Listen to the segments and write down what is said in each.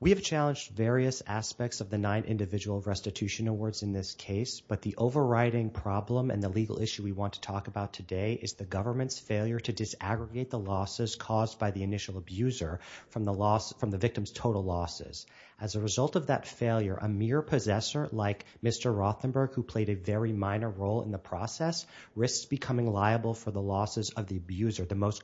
We have challenged various aspects of the nine individual restitution awards in this case, but the overriding problem and the legal issue we want to talk about today is the government's failure to disaggregate the losses caused by the initial abuser from the victim's total losses. As a result of that failure, a mere possessor like Mr. Rothenberg, who played a very minor role in the process, risks becoming liable for the losses of the abuser, the most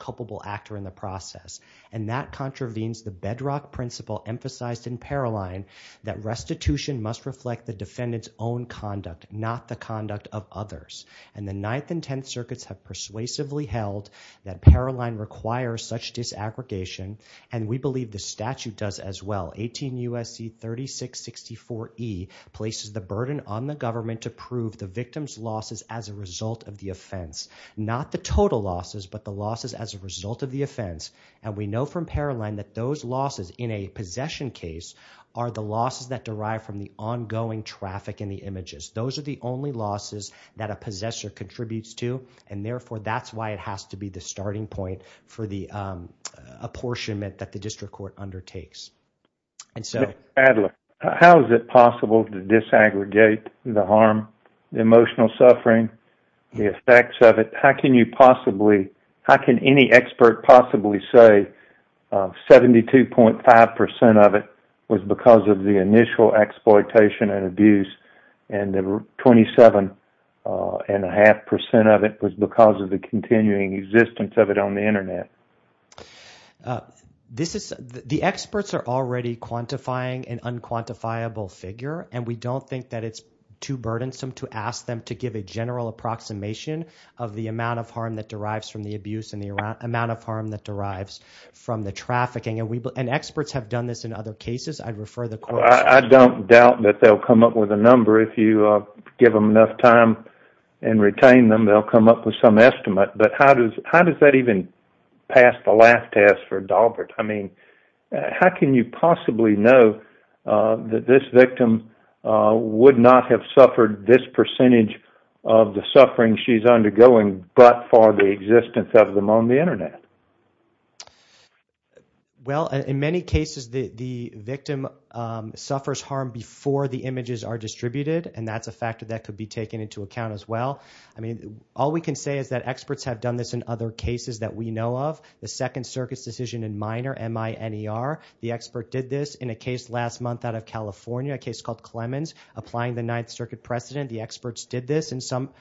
intervenes the bedrock principle emphasized in Paroline that restitution must reflect the defendant's own conduct, not the conduct of others. And the Ninth and Tenth Circuits have persuasively held that Paroline requires such disaggregation, and we believe the statute does as well. 18 U.S.C. 3664E places the burden on the government to prove the victim's losses as a result of the offense, not the total losses, but the losses as a result of the And that those losses in a possession case are the losses that derive from the ongoing traffic in the images. Those are the only losses that a possessor contributes to, and therefore that's why it has to be the starting point for the apportionment that the district court undertakes. Mr. Adler, how is it possible to disaggregate the harm, the emotional suffering, the effects of it? How can any expert possibly say 72.5% of it was because of the initial exploitation and abuse, and 27.5% of it was because of the continuing existence of it on the Internet? The experts are already quantifying an unquantifiable figure, and we don't think that it's too burdensome to ask them to give a general approximation of the amount of harm that derives from the abuse and the amount of harm that derives from the trafficking, and experts have done this in other cases. I'd refer the court to them. I don't doubt that they'll come up with a number. If you give them enough time and retain them, they'll come up with some estimate, but how does that even pass the last test for Daubert? I mean, how can you possibly know that this victim would not have suffered this percentage of the suffering she's undergoing but for the existence of them on the Internet? In many cases, the victim suffers harm before the images are distributed, and that's a factor that could be taken into account as well. All we can say is that experts have done this in other cases that we know of. The Second Circuit's decision in Minor, M-I-N-E-R, the expert did this in a case last month out of California, a case called Clemens, applying the Ninth Circuit precedent. The experts did this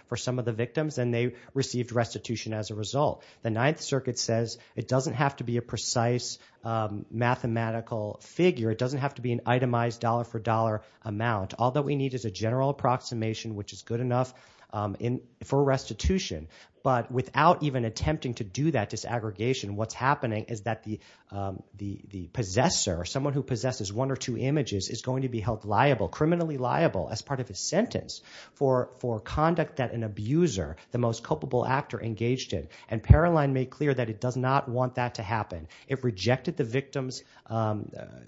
for some of the victims, and they received restitution as a result. The Ninth Circuit says it doesn't have to be a precise mathematical figure. It doesn't have to be an itemized dollar-for-dollar amount. All that we need is a general approximation, which is good enough for restitution, but without even attempting to do that disaggregation, what's happening is that the possessor, someone who possesses one or two images, is going to be held liable, criminally liable as part of his sentence for conduct that an abuser, the most culpable actor, engaged in. And Paroline made clear that it does not want that to happen. It rejected the victim's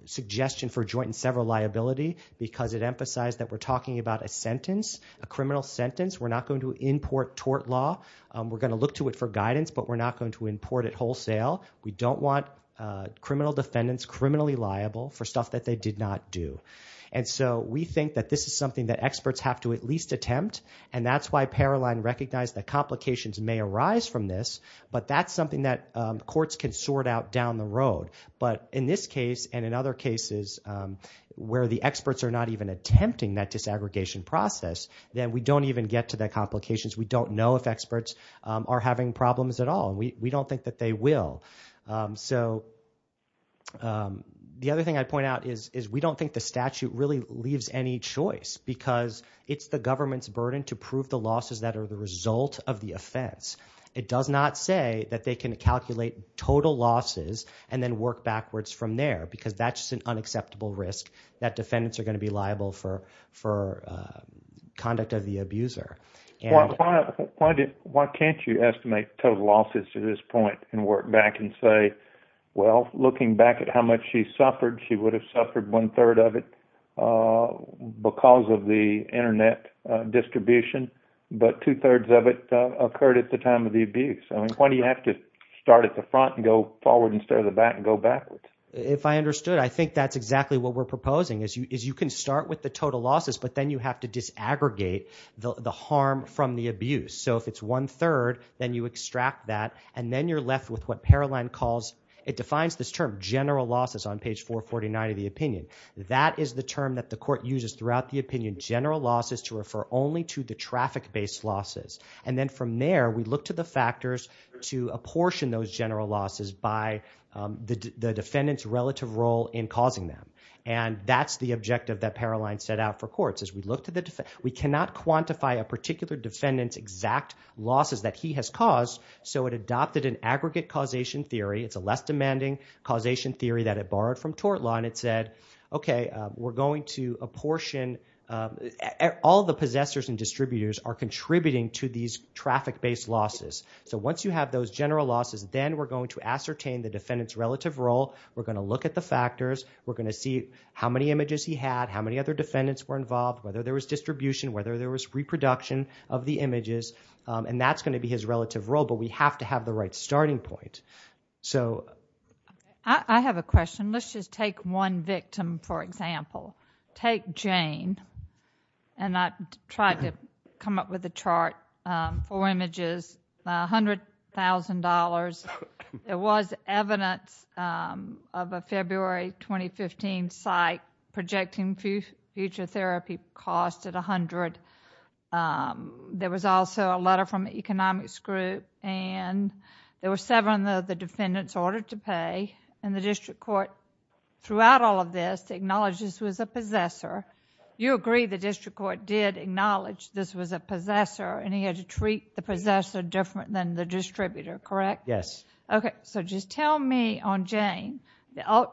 suggestion for joint and several liability because it emphasized that we're talking about a sentence, a criminal sentence. We're not going to import tort law. We're going to look to it for guidance, but we're not going to import it wholesale. We don't want criminal defendants criminally liable for stuff that they did not do. And so we think that this is something that experts have to at least attempt, and that's why Paroline recognized that complications may arise from this, but that's something that courts can sort out down the road. But in this case and in other cases where the experts are not even attempting that disaggregation process, then we don't even get to the complications. We don't know if experts are having problems at all. We don't think that they will. So the other thing I'd point out is we don't think the statute really leaves any choice because it's the government's burden to prove the losses that are the result of the offense. It does not say that they can calculate total losses and then work backwards from there because that's just an unacceptable risk that defendants are going to be liable for conduct of the abuser. Why can't you estimate total losses to this point and work back and say, well, looking back at how much she suffered, she would have suffered one-third of it because of the internet distribution, but two-thirds of it occurred at the time of the abuse. Why do you have to start at the front and go forward instead of the back and go backwards? If I understood, I think that's exactly what we're proposing, is you can start with the harm from the abuse. So if it's one-third, then you extract that and then you're left with what Paroline calls, it defines this term, general losses on page 449 of the opinion. That is the term that the court uses throughout the opinion, general losses, to refer only to the traffic-based losses. And then from there, we look to the factors to apportion those general losses by the defendant's relative role in causing them. And that's the objective that Paroline set out for courts. We cannot quantify a particular defendant's exact losses that he has caused, so it adopted an aggregate causation theory. It's a less-demanding causation theory that it borrowed from tort law, and it said, okay, we're going to apportion, all the possessors and distributors are contributing to these traffic-based losses. So once you have those general losses, then we're going to ascertain the defendant's relative role, we're going to look at the factors, we're going to see how many images he had, how many other defendants were involved, whether there was distribution, whether there was reproduction of the images, and that's going to be his relative role, but we have to have the right starting point. So... I have a question. Let's just take one victim, for example. Take Jane, and I tried to come up with a chart for images, $100,000. There was evidence of a February 2015 site projecting future therapy cost at $100,000. There was also a letter from the economics group, and there were seven of the defendants ordered to pay, and the district court, throughout all of this, acknowledged this was a possessor. You agree the district court did acknowledge this was a possessor, and he had to treat the possessor different than the distributor, correct? Yes. Okay. So just tell me, on Jane,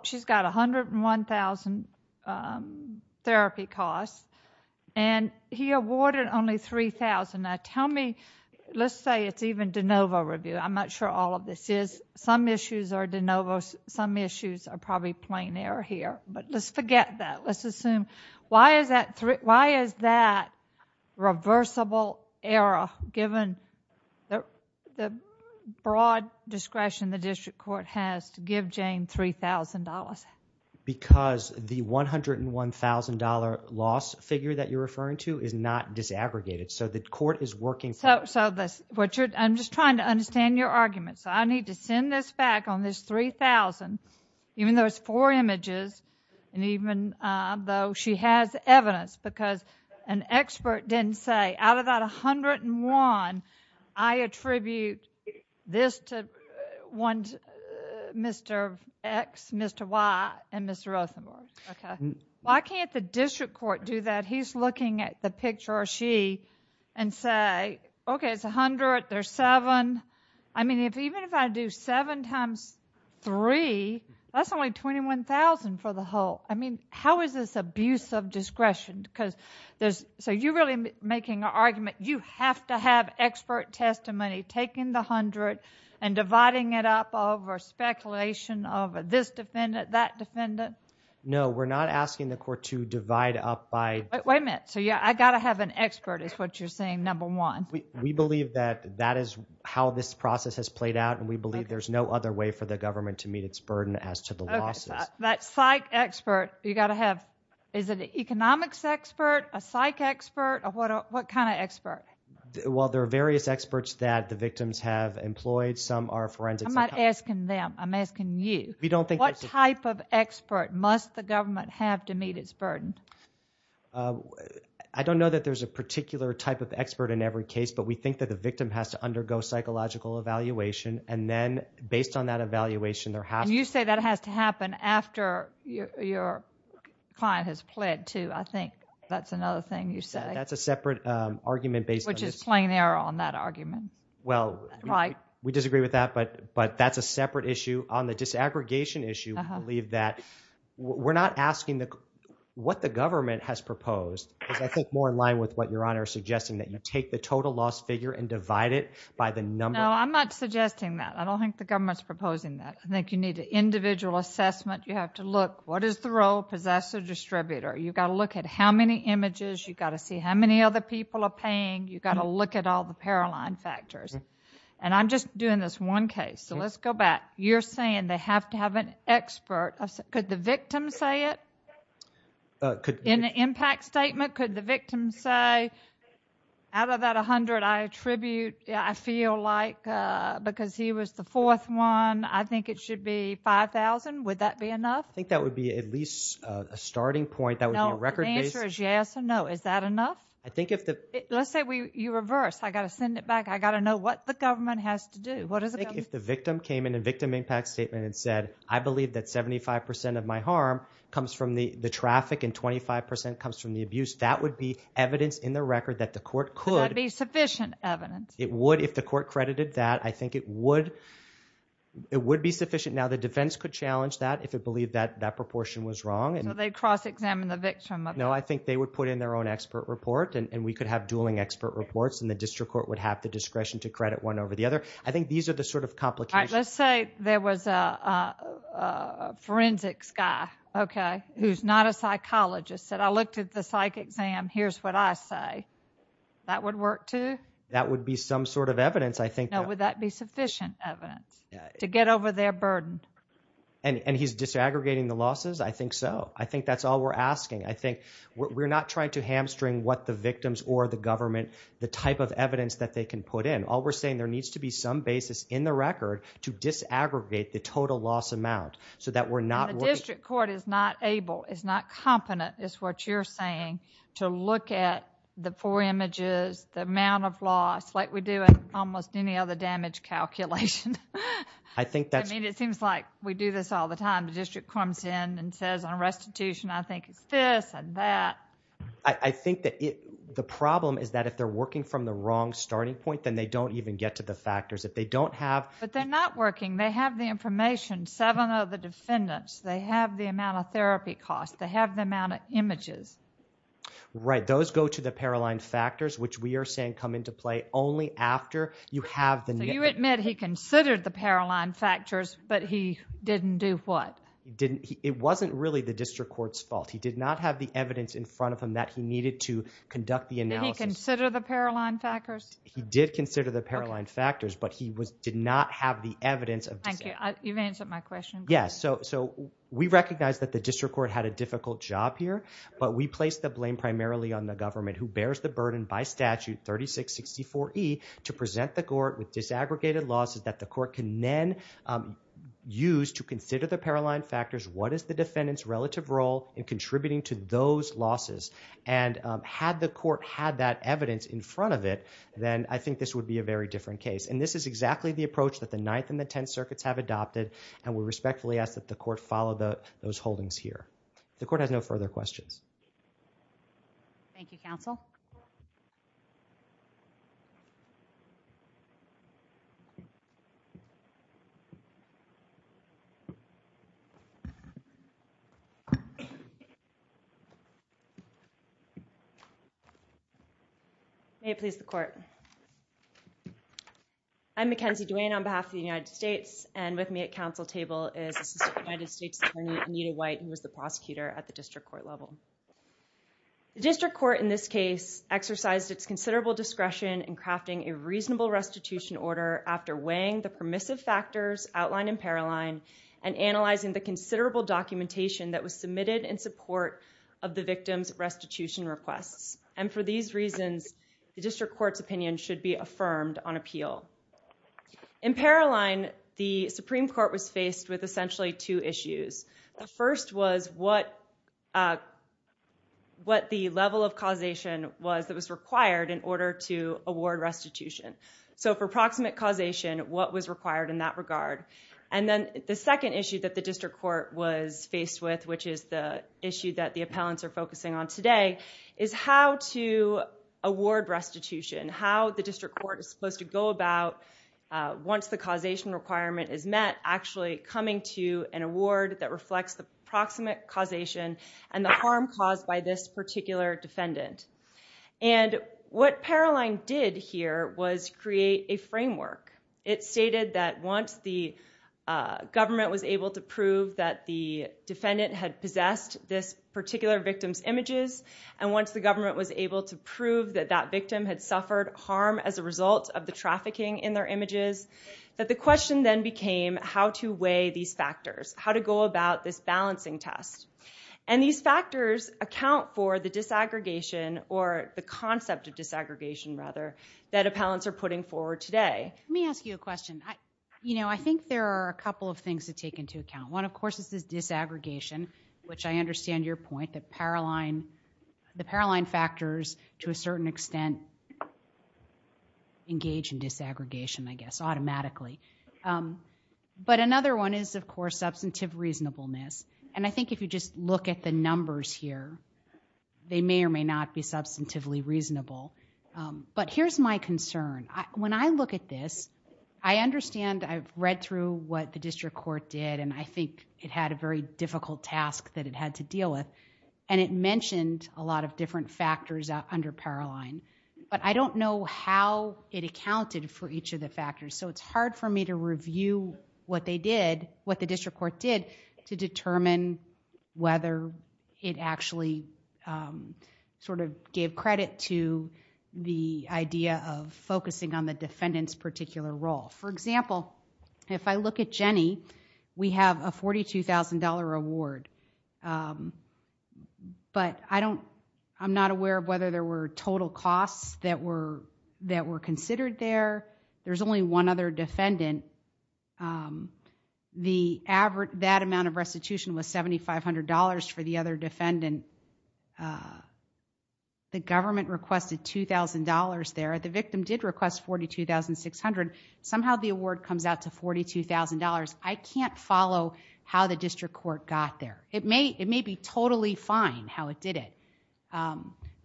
she's got $101,000 therapy cost, and he awarded only $3,000. Now tell me, let's say it's even de novo review. I'm not sure all of this is. Some issues are de novo, some issues are probably plain error here, but let's forget that. Let's look at, what is that reversible error, given the broad discretion the district court has to give Jane $3,000? Because the $101,000 loss figure that you're referring to is not disaggregated, so the court is working... So, Richard, I'm just trying to understand your argument. So I need to send this back on this $3,000, even though it's four images, and even though she has evidence, because an expert didn't say, out of that $101,000, I attribute this to Mr. X, Mr. Y, and Mr. Rothenberg. Why can't the district court do that? He's looking at the picture, or she, and say, okay, it's $100,000, there's $7,000. I mean, even if I do $7,000 times $3,000, that's only $21,000 for the whole. I mean, how is this abuse of discretion? So you're really making an argument, you have to have expert testimony, taking the $100,000 and dividing it up over speculation, over this defendant, that defendant? No, we're not asking the court to divide up by... Wait a minute. So I've got to have an expert, is what you're saying, number one. We believe that that is how this process has played out, and we believe there's no other way for the government to meet its burden as to the losses. That psych expert, you've got to have, is it an economics expert, a psych expert, or what kind of expert? Well, there are various experts that the victims have employed, some are forensics... I'm not asking them, I'm asking you. We don't think... What type of expert must the government have to meet its burden? I don't know that there's a particular type of expert in every case, but we think that the victim has to undergo psychological evaluation, and then based on that evaluation, there has to be... And you say that has to happen after your client has pled too, I think that's another thing you say. That's a separate argument based on... Which is plain error on that argument, right? We disagree with that, but that's a separate issue. On the disaggregation issue, we believe that we're not asking the... What the government has proposed is, I think, more in line with what Your Honor is suggesting, that you take the total loss figure and divide it by the number... No, I'm not suggesting that. I don't think the government's proposing that. I think you need an individual assessment. You have to look, what is the role? Possessor, distributor. You've got to look at how many images, you've got to see how many other people are paying, you've got to look at all the paroline factors. And I'm just doing this one case, so let's go back. You're saying they have to have an expert. Could the victim say it? In the impact statement, could the victim say, out of that 100 I attribute, I feel like, because he was the fourth one, I think it should be 5,000. Would that be enough? I think that would be at least a starting point. That would be a record-based... No, the answer is yes or no. Is that enough? I think if the... Let's say you reverse. I've got to send it back. I've got to know what the government has to do. What does the government... If the victim came in a victim impact statement and said, I believe that 75% of my harm comes from the traffic and 25% comes from the abuse, that would be evidence in the record that the court could... Would that be sufficient evidence? It would if the court credited that. I think it would be sufficient. Now, the defense could challenge that if it believed that that proportion was wrong. So they'd cross-examine the victim? No, I think they would put in their own expert report and we could have dueling expert reports and the district court would have the discretion to credit one over the other. I think these are the sort of complications... Let's say there was a forensics guy, okay, who's not a psychologist, said, I looked at the psych exam. Here's what I say. That would work too? That would be some sort of evidence, I think. Now, would that be sufficient evidence to get over their burden? And he's disaggregating the losses? I think so. I think that's all we're asking. I think we're not trying to hamstring what the victims or the government, the type of evidence that they can put in. All we're saying, there needs to be some basis in the record to disaggregate the total loss amount so that we're not... And the district court is not able, is not competent, is what you're saying, to look at the four images, the amount of loss, like we do in almost any other damage calculation. I think that's... I mean, it seems like we do this all the time. The district comes in and says, on restitution, I think it's this and that. I think that the problem is that if they're working from the wrong starting point, then they don't even get to the factors. If they don't have... But they're not working. They have the information, seven of the defendants. They have the amount of therapy costs. They have the amount of images. Right. Those go to the Paroline factors, which we are saying come into play only after you have the... You admit he considered the Paroline factors, but he didn't do what? It wasn't really the district court's fault. He did not have the evidence in front of him that he needed to conduct the analysis. Did he consider the Paroline factors? He did consider the Paroline factors, but he did not have the evidence of... Thank you. You've answered my question. Yes. We recognize that the district court had a difficult job here, but we placed the blame primarily on the government, who bears the burden by statute 3664E to present the evidence that the court can then use to consider the Paroline factors. What is the defendant's relative role in contributing to those losses? And had the court had that evidence in front of it, then I think this would be a very different case. And this is exactly the approach that the Ninth and the Tenth Circuits have adopted, and we respectfully ask that the court follow those holdings here. The court has no further questions. Thank you, counsel. May it please the court. I'm Mackenzie Duane on behalf of the United States, and with me at counsel table is Assistant United States Attorney Anita White, who is the prosecutor at the district court level. The district court in this case exercised its considerable discretion in crafting a reasonable restitution order after weighing the permissive factors outlined in Paroline and analyzing the considerable documentation that was submitted in support of the victim's restitution requests. And for these reasons, the district court's opinion should be affirmed on appeal. In Paroline, the Supreme Court was faced with essentially two issues. The first was what the level of causation was that was required in order to award restitution. So for proximate causation, what was required in that regard? And then the second issue that the district court was faced with, which is the issue that the appellants are focusing on today, is how to award restitution, how the district court is supposed to go about once the causation requirement is met, actually coming to an award that reflects the proximate causation and the harm caused by this particular defendant. And what Paroline did here was create a framework. It stated that once the government was able to prove that the defendant had possessed this particular victim's images, and once the government was able to prove that that victim had suffered harm as a result of the trafficking in their images, that the question then became how to weigh these factors, how to go about this balancing test. And these factors account for the disaggregation, or the concept of disaggregation, rather, that appellants are putting forward today. Let me ask you a question. I think there are a couple of things to take into account. One, of course, is this disaggregation, which I understand your point that the Paroline factors to a certain extent engage in disaggregation, I guess, automatically. But another one is, of course, substantive reasonableness. And I think if you just look at the numbers here, they may or may not be substantively reasonable. But here's my concern. When I look at this, I understand, I've read through what the district court did, and I think it had a very difficult task that it had to deal with, and it mentioned a lot of different factors under Paroline. But I don't know how it accounted for each of the factors, so it's hard for me to review what they did, what the district court did, to determine whether it actually sort of gave credit to the idea of focusing on the defendant's particular role. For example, if I look at Jenny, we have a $42,000 reward. But I'm not aware of whether there were total costs that were considered there. There's only one other defendant. That amount of restitution was $7,500 for the other defendant. The government requested $2,000 there. The victim did request $42,600. Somehow the award comes out to $42,000. I can't follow how the district court got there. It may be totally fine how it did it.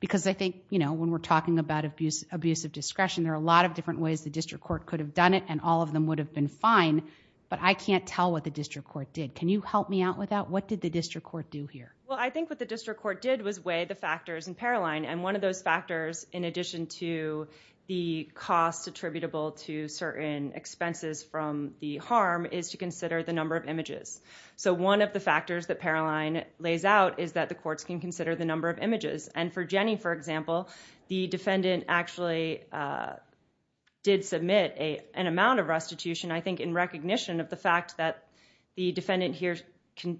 Because I think when we're talking about abuse of discretion, there are a lot of different ways the district court could have done it, and all of them would have been fine. But I can't tell what the district court did. Can you help me out with that? What did the district court do here? Well, I think what the district court did was weigh the factors in Paroline. And one of those factors, in addition to the cost attributable to certain expenses from the harm, is to consider the number of images. So one of the factors that Paroline lays out is that the courts can consider the number of images. And for Jenny, for example, the defendant actually did submit an amount of restitution, I think in recognition of the fact that the defendant here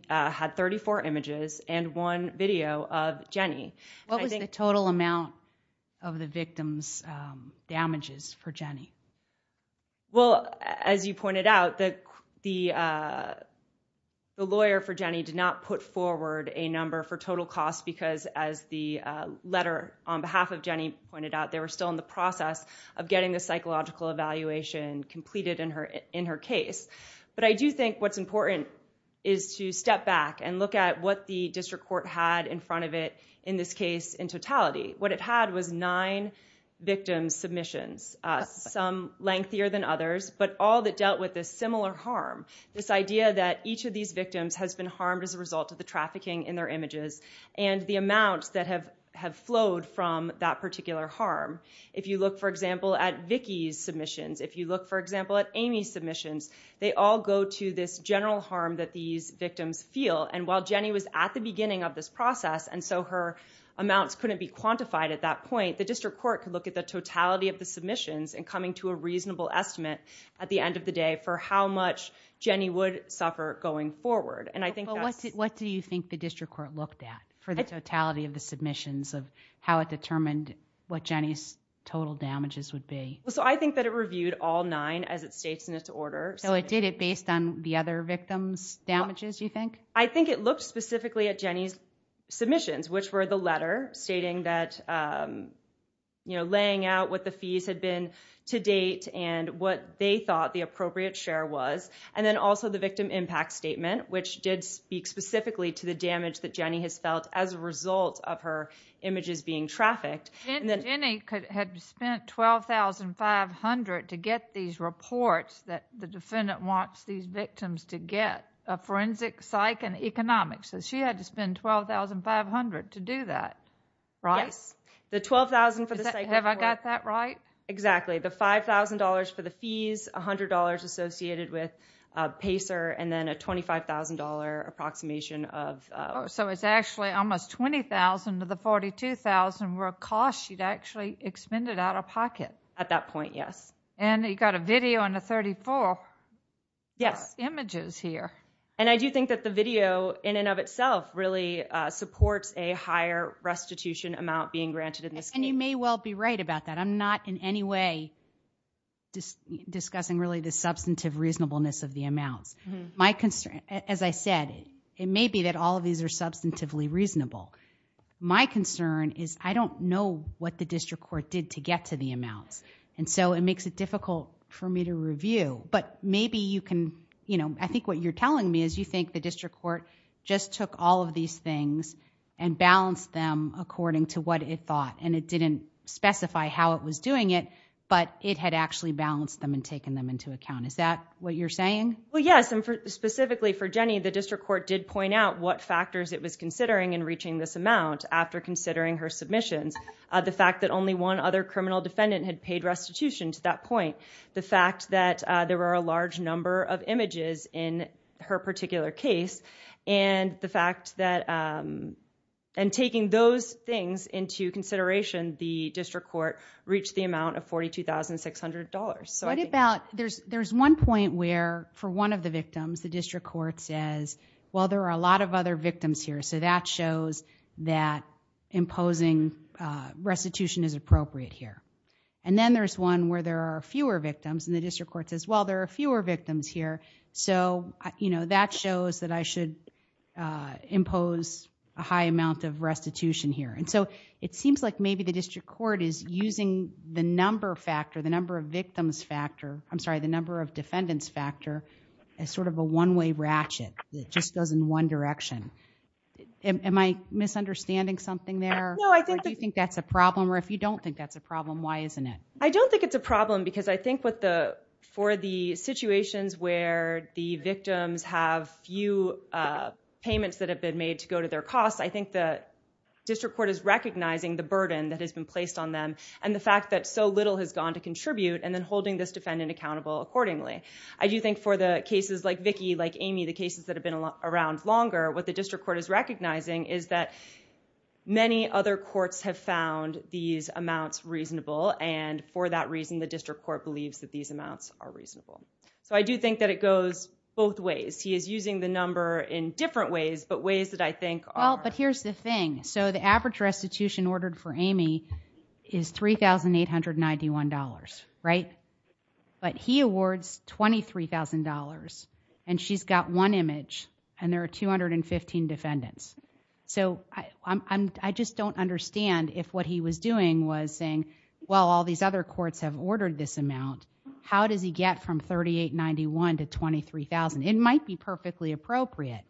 had 34 images and one video of Jenny. What was the total amount of the victim's damages for Jenny? Well, as you pointed out, the lawyer for Jenny did not put forward a number for total cost because as the letter on behalf of Jenny pointed out, they were still in the process of getting the psychological evaluation completed in her case. But I do think what's important is to step back and look at what the district court had in front of it in this case in totality. What it had was nine victims' submissions, some lengthier than others, but all that dealt with a similar harm. This idea that each of these victims has been harmed as a result of the trafficking in their images and the amounts that have flowed from that particular harm. If you look, for example, at Vicky's submissions, if you look, for example, at this general harm that these victims feel, and while Jenny was at the beginning of this process and so her amounts couldn't be quantified at that point, the district court could look at the totality of the submissions and coming to a reasonable estimate at the end of the day for how much Jenny would suffer going forward. What do you think the district court looked at for the totality of the submissions of how it determined what Jenny's total damages would be? I think that it reviewed all nine as it states in its order. So it did it based on the other victims' damages, you think? I think it looked specifically at Jenny's submissions, which were the letter stating that laying out what the fees had been to date and what they thought the appropriate share was, and then also the victim impact statement, which did speak specifically to the damage that Jenny has felt as a result of her images being trafficked. Jenny had spent $12,500 to get these reports that the defendant wants these victims to get, a forensic, psych, and economics. She had to spend $12,500 to do that, right? Yes. The $12,000 for the psych report... Have I got that right? Exactly. The $5,000 for the fees, $100 associated with PACER, and then a $25,000 approximation of... So it's actually almost $20,000 of the $42,000 were a cost she'd actually expended out of pocket. At that point, yes. And you've got a video and the 34 images here. And I do think that the video in and of itself really supports a higher restitution amount being granted in this case. And you may well be right about that. I'm not in any way discussing really the substantive reasonableness of the amounts. My concern, as I said, it may be that all of these are substantively reasonable. My concern is I don't know what the district court did to get to the amounts. And so it makes it difficult for me to review. But maybe you can... I think what you're telling me is you think the district court just took all of these things and balanced them according to what it thought. And it didn't specify how it was doing it, but it had actually balanced them and taken them into account. Is that what you're saying? Well, yes. And specifically for Jenny, the district court did point out what factors it was considering in reaching this amount after considering her submissions. The fact that only one other criminal defendant had paid restitution to that point. The fact that there were a large number of images in her particular case. And the fact that... and taking those things into consideration, the district court reached the amount of $42,600. So I think... What about... there's one point where, for one of the victims, the district court says, well, there are a lot of other victims here. So that shows that imposing restitution is appropriate here. And then there's one where there are fewer victims, and the district court says, well, there are fewer victims here. So that shows that I should impose a high amount of restitution here. And so it seems like maybe the district court is using the number factor, the number of victims factor... I'm sorry, the number of defendants factor as sort of a one-way ratchet. It just goes in one direction. Am I misunderstanding something there? Or do you think that's a problem? Or if you don't think that's a problem, why isn't it? I don't think it's a problem, because I think for the situations where the victims have few payments that have been made to go to their costs, I think the district court is recognizing the burden that has been placed on them, and the fact that so little has gone to contribute, and then holding this defendant accountable accordingly. I do think for the cases like Vicki, like Amy, the cases that have been around longer, what the district court is recognizing is that many other courts have found these amounts reasonable, and for that reason, the district court believes that these amounts are reasonable. So I do think that it goes both ways. He is using the number in different ways, but ways that I think are... Well, but here's the thing. So the average restitution ordered for Amy is $3,891, right? But he awards $23,000, and she's got one image, and there are 215 defendants. So I just don't understand if what he was doing was saying, well, all these other courts have ordered this amount. How does he get from $3,891 to $23,000? It might be perfectly appropriate.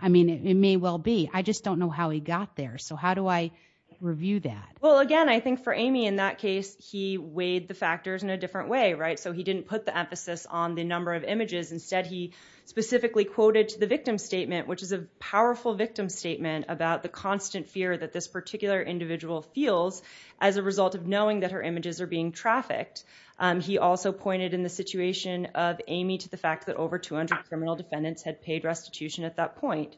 I mean, it may well be. I just don't know how he got there. So how do I review that? Well, again, I think for Amy, in that case, he weighed the factors in a different way, right? So he didn't put the emphasis on the number of images. Instead, he specifically quoted the victim statement, which is a powerful victim statement about the constant fear that this particular individual feels as a result of knowing that her images are being trafficked. He also pointed in the situation of Amy to the fact that over 200 criminal defendants had paid restitution at that point.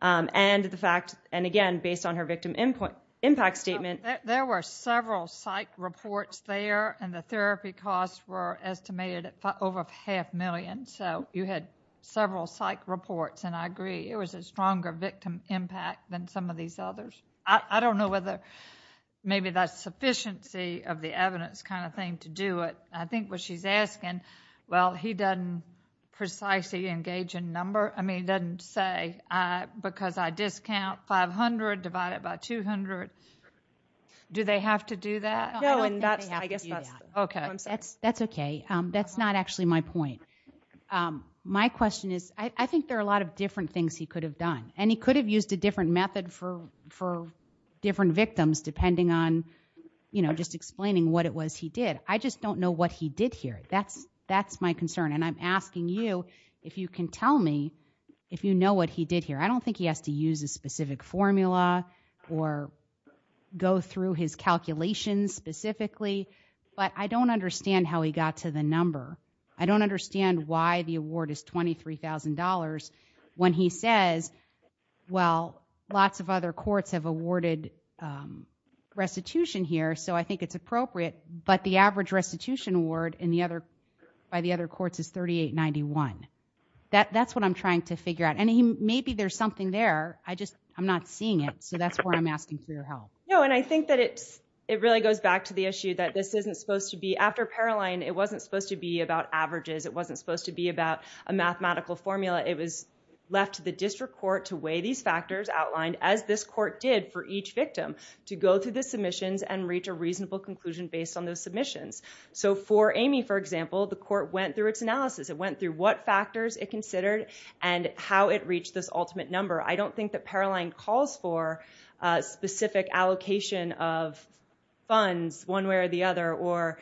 And the fact, and again, based on her victim impact statement. There were several psych reports there, and the therapy costs were estimated at over half a million. So you had several psych reports, and I agree, it was a stronger victim impact than some of these others. I don't know whether maybe that's sufficiency of the evidence kind of thing to do it. I think what she's asking, well, he doesn't precisely engage in number. I mean, doesn't say, because I discount 500 divided by 200. Do they have to do that? No, I don't think they have to do that. I guess that's, okay. I'm sorry. That's okay. That's not actually my point. My question is, I think there are a lot of different things he could have done, and he could have used a different method for different victims, depending on, you know, just explaining what it was he did. I just don't know what he did here. That's my concern. And I'm asking you if you can tell me if you know what he did here. I don't think he has to use a specific formula or go through his calculations specifically, but I don't understand how he got to the number. I don't understand why the award is $23,000 when he says, well, lots of other courts have awarded restitution here, so I think it's appropriate, but the average restitution award in the other, by the other courts is $38.91. That's what I'm trying to figure out, and maybe there's something there. I just, I'm not seeing it, so that's why I'm asking for your help. No, and I think that it really goes back to the issue that this isn't supposed to be, after Paroline, it wasn't supposed to be about averages. It wasn't supposed to be about a mathematical formula. It was left to the district court to weigh these factors outlined, as this court did for each victim, to go through the submissions and reach a reasonable conclusion based on those submissions. For Amy, for example, the court went through its analysis. It went through what factors it considered and how it reached this ultimate number. I don't think that Paroline calls for a specific allocation of funds one way or the other, or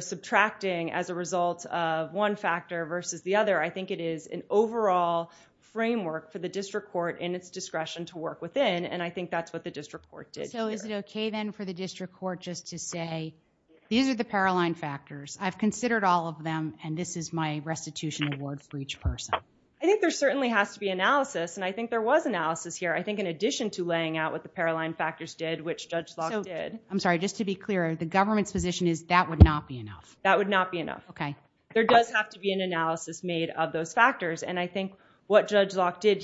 subtracting as a result of one factor versus the other. I think it is an overall framework for the district court in its discretion to work within, and I think that's what the district court did. So, is it okay then for the district court just to say, these are the Paroline factors. I've considered all of them, and this is my restitution award for each person. I think there certainly has to be analysis, and I think there was analysis here. I think in addition to laying out what the Paroline factors did, which Judge Locke did. I'm sorry, just to be clear, the government's position is that would not be enough? That would not be enough. Okay. There does have to be an analysis made of those factors, and I think what He went through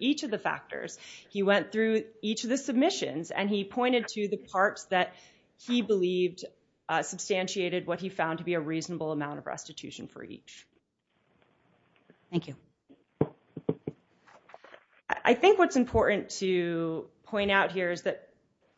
each of the factors. He went through each of the submissions, and he pointed to the parts that he believed substantiated what he found to be a reasonable amount of restitution for each. Thank you. I think what's important to point out here is that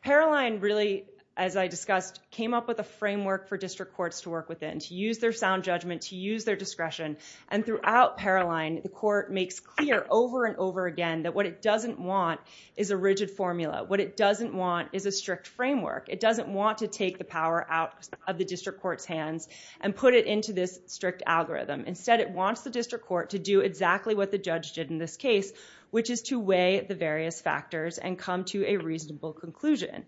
Paroline really, as I discussed, came up with a framework for district courts to work within, to use their sound judgment, to use their discretion, and throughout Paroline, the court makes clear over and over again that what it doesn't want is a rigid formula. What it doesn't want is a strict framework. It doesn't want to take the power out of the district court's hands and put it into this strict algorithm. Instead, it wants the district court to do exactly what the judge did in this case, which is to weigh the various factors and come to a reasonable conclusion.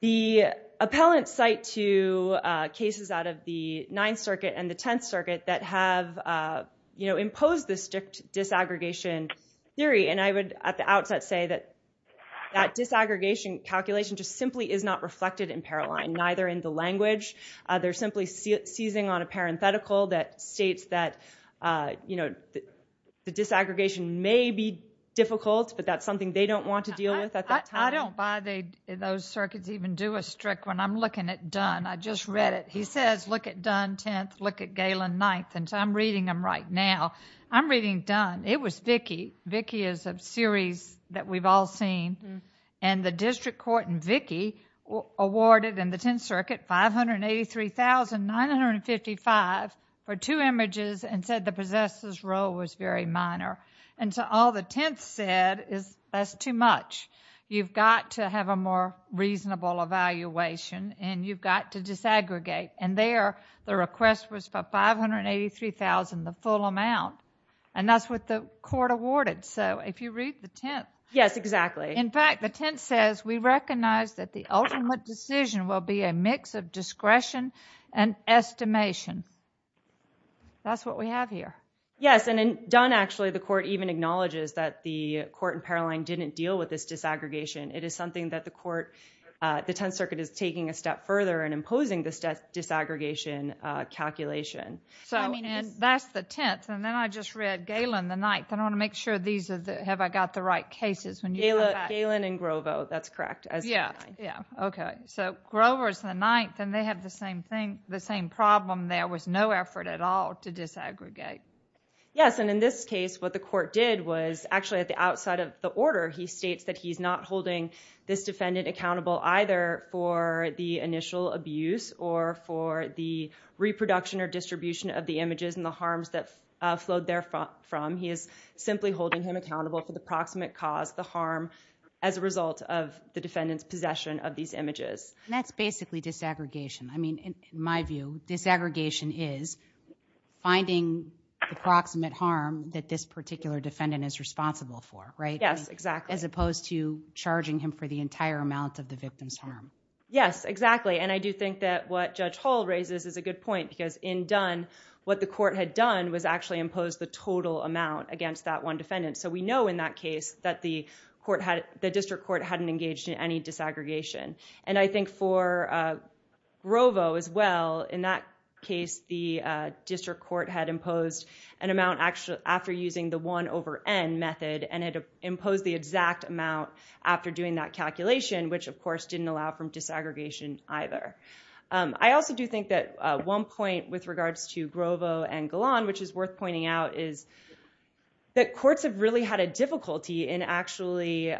The appellant cite two cases out of the Ninth Circuit and the Tenth Circuit that have imposed the strict disaggregation theory, and I would at the outset say that that disaggregation calculation just simply is not reflected in Paroline, neither in the language. They're simply seizing on a parenthetical that states that the disaggregation may be difficult, but that's something they don't want to deal with at that time. I don't buy those circuits even do a strict one. I'm looking at Dunn. I just read it. He says, look at Dunn, Tenth, look at Galen, Ninth, and so I'm reading them right now. I'm reading Dunn. It was Vickie. Vickie is a series that we've all seen, and the district court in Vickie awarded in the Tenth Circuit $583,955 for two images and said the possessor's role was very minor. All the Tenths said is that's too much. You've got to have a more reasonable evaluation, and you've got to disaggregate, and there the request was for $583,000, the full amount, and that's what the court awarded, so if you read the Tenth. Yes, exactly. In fact, the Tenth says, we recognize that the ultimate decision will be a mix of discretion and estimation. That's what we have here. Yes, and in Dunn, actually, the court even acknowledges that the court in Paroline didn't deal with this disaggregation. It is something that the court, the Tenth Circuit is taking a step further and imposing this disaggregation calculation. That's the Tenth, and then I just read Galen, the Ninth, and I want to make sure these are the... Have I got the right cases when you come back? Galen and Grovo. That's correct. Yeah. Yeah. Okay. Grover's the Ninth, and they have the same thing, the same problem. There was no effort at all to disaggregate. Yes, and in this case, what the court did was actually at the outside of the order, he states that he's not holding this defendant accountable either for the initial abuse or for the reproduction or distribution of the images and the harms that flowed there from. He is simply holding him accountable for the proximate cause, the harm, as a result of the defendant's possession of these images. That's basically disaggregation. I mean, in my view, disaggregation is finding the proximate harm that this particular defendant is responsible for, right? Yes, exactly. As opposed to charging him for the entire amount of the victim's harm. Yes, exactly, and I do think that what Judge Hall raises is a good point, because in Dunn, what the court had done was actually impose the total amount against that one defendant, so we know in that case that the district court hadn't engaged in any disaggregation. I think for Grovo as well, in that case, the district court had imposed an amount after using the 1 over N method, and it imposed the exact amount after doing that calculation, which of course didn't allow for disaggregation either. I also do think that one point with regards to Grovo and Golan, which is worth pointing out, is that courts have really had a difficulty in actually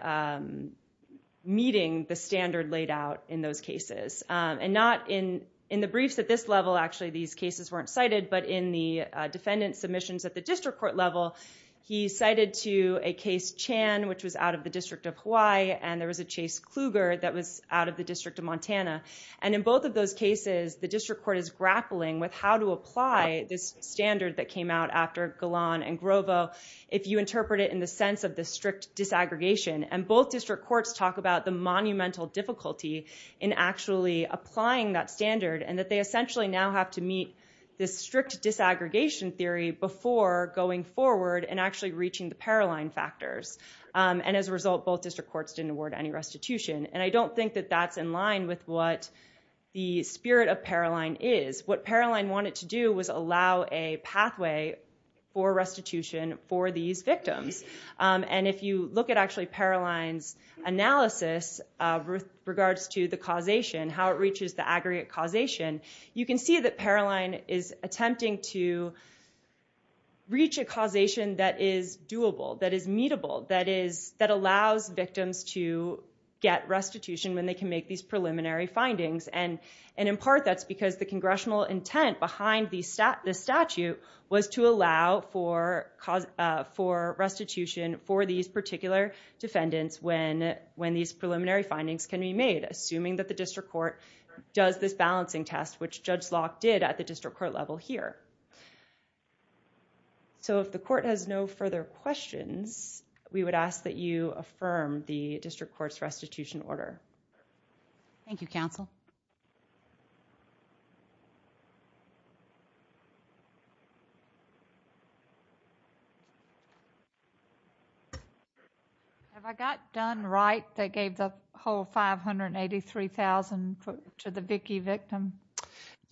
meeting the standard laid out in those cases, and not in the briefs at this level, actually, these cases weren't cited, but in the defendant's submissions at the district court level, he cited to a case Chan, which was out of the District of Hawaii, and there was a Chase Kluger that was out of the District of Montana, and in both of those cases, the district court is grappling with how to apply this standard that came out after Golan and Grovo, if you interpret it in the sense of the strict disaggregation, and both district courts talk about the monumental difficulty in actually applying that standard, and that they essentially now have to meet this strict disaggregation theory before going forward and actually reaching the Paroline factors, and as a result, both district courts didn't award any restitution, and I don't think that that's in line with what the spirit of Paroline is. What Paroline wanted to do was allow a pathway for restitution for these victims, and if you look at actually Paroline's analysis with regards to the causation, how it reaches the defendant is attempting to reach a causation that is doable, that is meetable, that allows victims to get restitution when they can make these preliminary findings, and in part, that's because the congressional intent behind the statute was to allow for restitution for these particular defendants when these preliminary findings can be made, assuming that the district court does this balancing test, which Judge Locke did at the district court level here. If the court has no further questions, we would ask that you affirm the district court's restitution order. Thank you, counsel. Have I got done right that gave the whole $583,000 to the Vickie victim?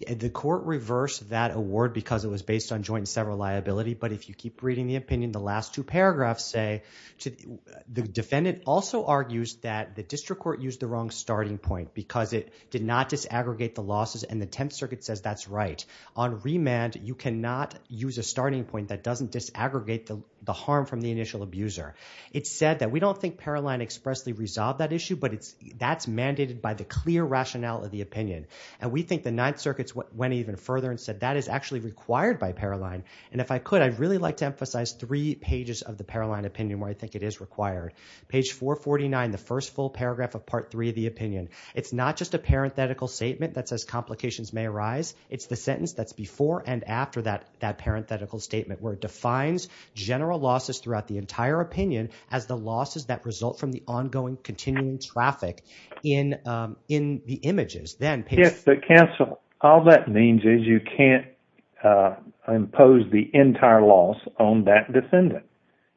The court reversed that award because it was based on joint and several liability, but if you keep reading the opinion, the last two paragraphs say, the defendant also argues that the district court used the wrong starting point because it did not disaggregate the losses and the Tenth Circuit says that's right. On remand, you cannot use a starting point that doesn't disaggregate the harm from the initial abuser. It said that we don't think Paroline expressly resolved that issue, but that's mandated by the clear rationale of the opinion, and we think the Ninth Circuit went even further and said that is actually required by Paroline, and if I could, I'd really like to emphasize three pages of the Paroline opinion where I think it is required. Page 449, the first full paragraph of Part 3 of the opinion. It's not just a parenthetical statement that says complications may arise. It's the sentence that's before and after that parenthetical statement where it defines general losses throughout the entire opinion as the losses that result from the ongoing continuing traffic in the images. Yes, but counsel, all that means is you can't impose the entire loss on that defendant,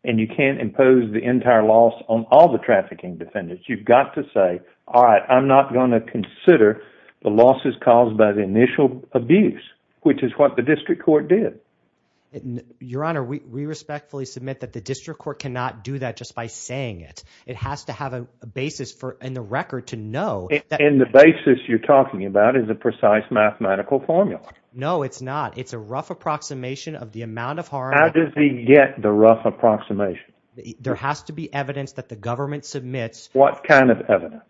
and you can't impose the entire loss on all the trafficking defendants. You've got to say, all right, I'm not going to consider the losses caused by the initial abuse, which is what the district court did. Your Honor, we respectfully submit that the district court cannot do that just by saying it. It has to have a basis in the record to know. The basis you're talking about is a precise mathematical formula. No, it's not. It's a rough approximation of the amount of harm. How does he get the rough approximation? There has to be evidence that the government submits. What kind of evidence?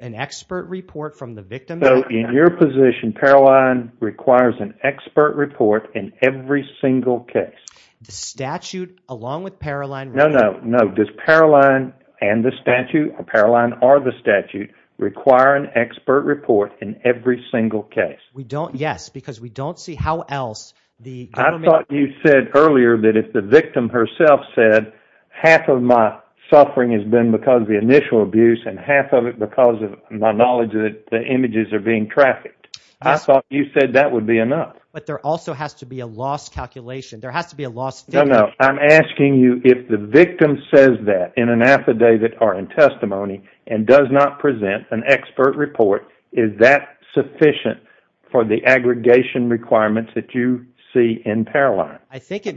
An expert report from the victim. So, in your position, Paroline requires an expert report in every single case? The statute, along with Paroline. No, no, no. Does Paroline and the statute, or Paroline or the statute, require an expert report in every single case? We don't, yes, because we don't see how else the government... I thought you said earlier that if the victim herself said, half of my suffering has been because of the initial abuse and half of it because of my knowledge that the images are being trafficked. I thought you said that would be enough. But there also has to be a loss calculation. There has to be a loss... No, no. I'm asking you if the victim says that in an affidavit or in testimony and does not present an expert report, is that sufficient for the aggregation requirements that you see in Paroline? I think it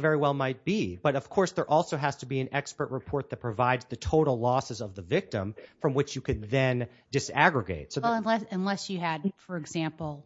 very well might be. But of course, there also has to be an expert report that provides the total losses of the victim from which you could then disaggregate. Unless you had, for example,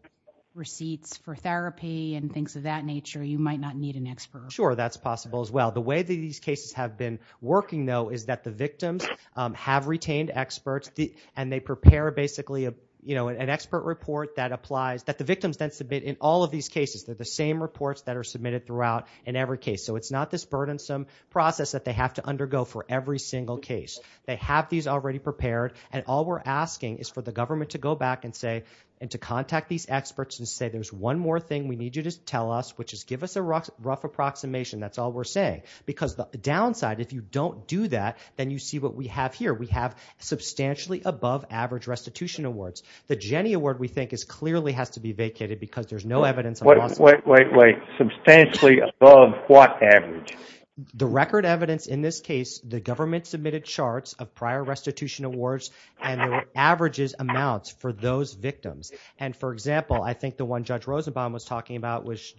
receipts for therapy and things of that nature, you might not need an expert. Sure, that's possible as well. The way that these cases have been working, though, is that the victims have retained experts and they prepare, basically, an expert report that applies... That the victims then submit in all of these cases. They're the same reports that are submitted throughout in every case. So it's not this burdensome process that they have to undergo for every single case. They have these already prepared and all we're asking is for the government to go back and to contact these experts and say, there's one more thing we need you to tell us, which is give us a rough approximation. That's all we're saying. Because the downside, if you don't do that, then you see what we have here. We have substantially above average restitution awards. The Jenny Award, we think, clearly has to be vacated because there's no evidence... Wait, wait, wait, wait. Substantially above what average? The record evidence in this case, the government submitted charts of prior restitution awards and the averages amounts for those victims. And for example, I think the one Judge Rosenbaum was talking about was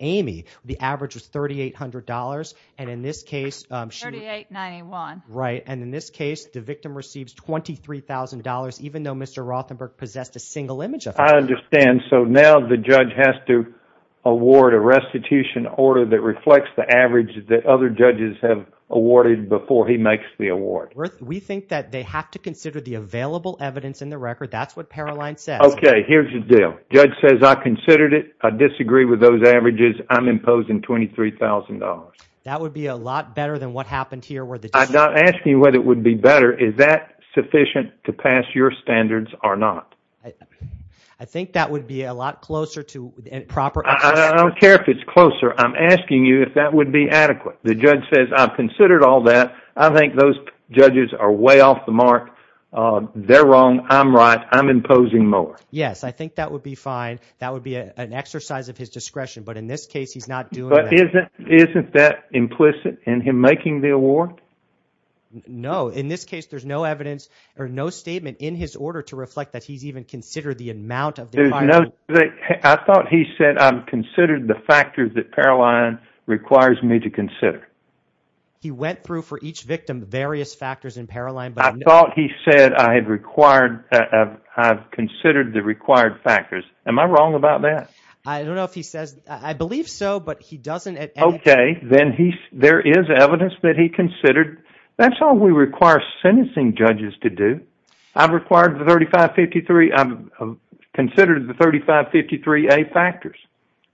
Amy. The average was $3,800 and in this case... $3,891. Right. And in this case, the victim receives $23,000 even though Mr. Rothenberg possessed a single image of her. I understand. So now the judge has to award a restitution order that reflects the average that other judges have awarded before he makes the award. We think that they have to consider the available evidence in the record. That's what Paroline says. Okay. Here's the deal. Judge says, I considered it. I disagree with those averages. I'm imposing $23,000. That would be a lot better than what happened here where the... I'm not asking whether it would be better. Is that sufficient to pass your standards or not? I think that would be a lot closer to proper... I don't care if it's closer. I'm asking you if that would be adequate. The judge says, I've considered all that. I think those judges are way off the mark. They're wrong. I'm right. I'm imposing more. Yes. I think that would be fine. That would be an exercise of his discretion. But in this case, he's not doing that. Isn't that implicit in him making the award? No. In this case, there's no evidence or no statement in his order to reflect that he's even considered the amount of... There's no... I thought he said, I've considered the factors that Paroline requires me to consider. He went through for each victim various factors in Paroline, but... I thought he said, I've considered the required factors. Am I wrong about that? I don't know if he says... I believe so, but he doesn't... Okay. Then there is evidence that he considered. That's all we require sentencing judges to do. I've considered the 3553A factors,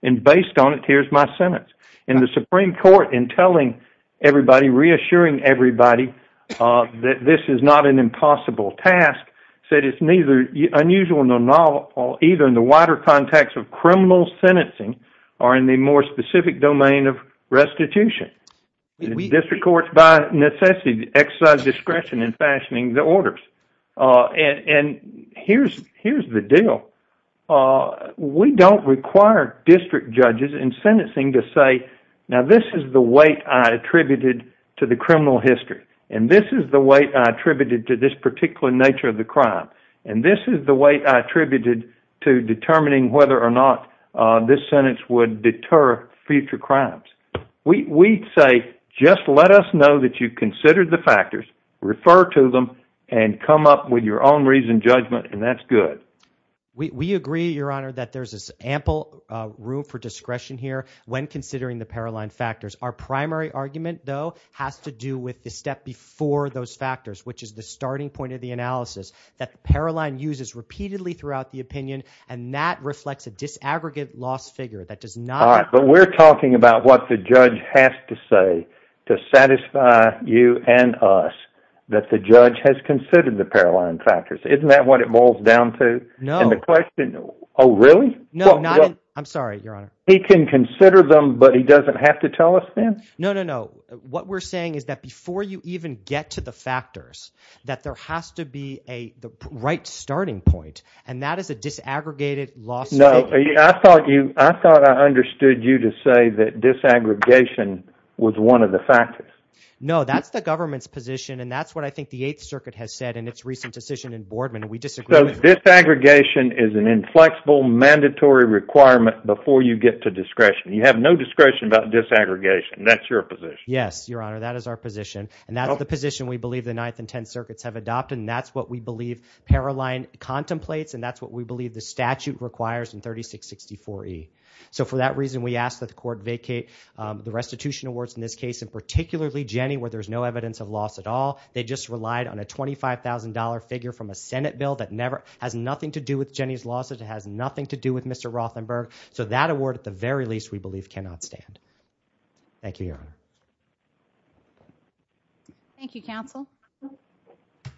and based on it, here's my sentence. In the Supreme Court, in telling everybody, reassuring everybody that this is not an impossible task, said it's neither unusual nor novel, either in the wider context of criminal sentencing or in the more specific domain of restitution. District courts, by necessity, exercise discretion in fashioning the orders. Here's the deal. We don't require district judges in sentencing to say, now this is the weight I attributed to the criminal history, and this is the weight I attributed to this particular nature of the crime, and this is the weight I attributed to determining whether or not this sentence would deter future crimes. We say, just let us know that you considered the factors, refer to them, and come up with your own reason, judgment, and that's good. We agree, Your Honor, that there's ample room for discretion here when considering the Paroline factors. Our primary argument, though, has to do with the step before those factors, which is the starting point of the analysis that the Paroline uses repeatedly throughout the opinion, and that reflects a disaggregate loss figure that does not... All right, but we're talking about what the judge has to say to satisfy you and us that the judge has considered the Paroline factors. Isn't that what it boils down to? No. And the question, oh, really? No, not in... I'm sorry, Your Honor. He can consider them, but he doesn't have to tell us then? No, no, no. What we're saying is that before you even get to the factors, that there has to be the right starting point, and that is a disaggregated loss figure. No, I thought I understood you to say that disaggregation was one of the factors. No, that's the government's position, and that's what I think the Eighth Circuit has said in its recent decision in Boardman, and we disagree with that. Disaggregation is an inflexible, mandatory requirement before you get to discretion. You have no discretion about disaggregation. That's your position. Yes, Your Honor, that is our position, and that's the position we believe the Ninth and Tenth Circuits have adopted, and that's what we believe Paroline contemplates, and that's what we believe the statute requires in 3664E. So for that reason, we ask that the court vacate the restitution awards in this case, and particularly Jenny, where there's no evidence of loss at all. They just relied on a $25,000 figure from a Senate bill that has nothing to do with Jenny's lawsuit, it has nothing to do with Mr. Rothenberg. So that award, at the very least, we believe cannot stand. Thank you, Your Honor.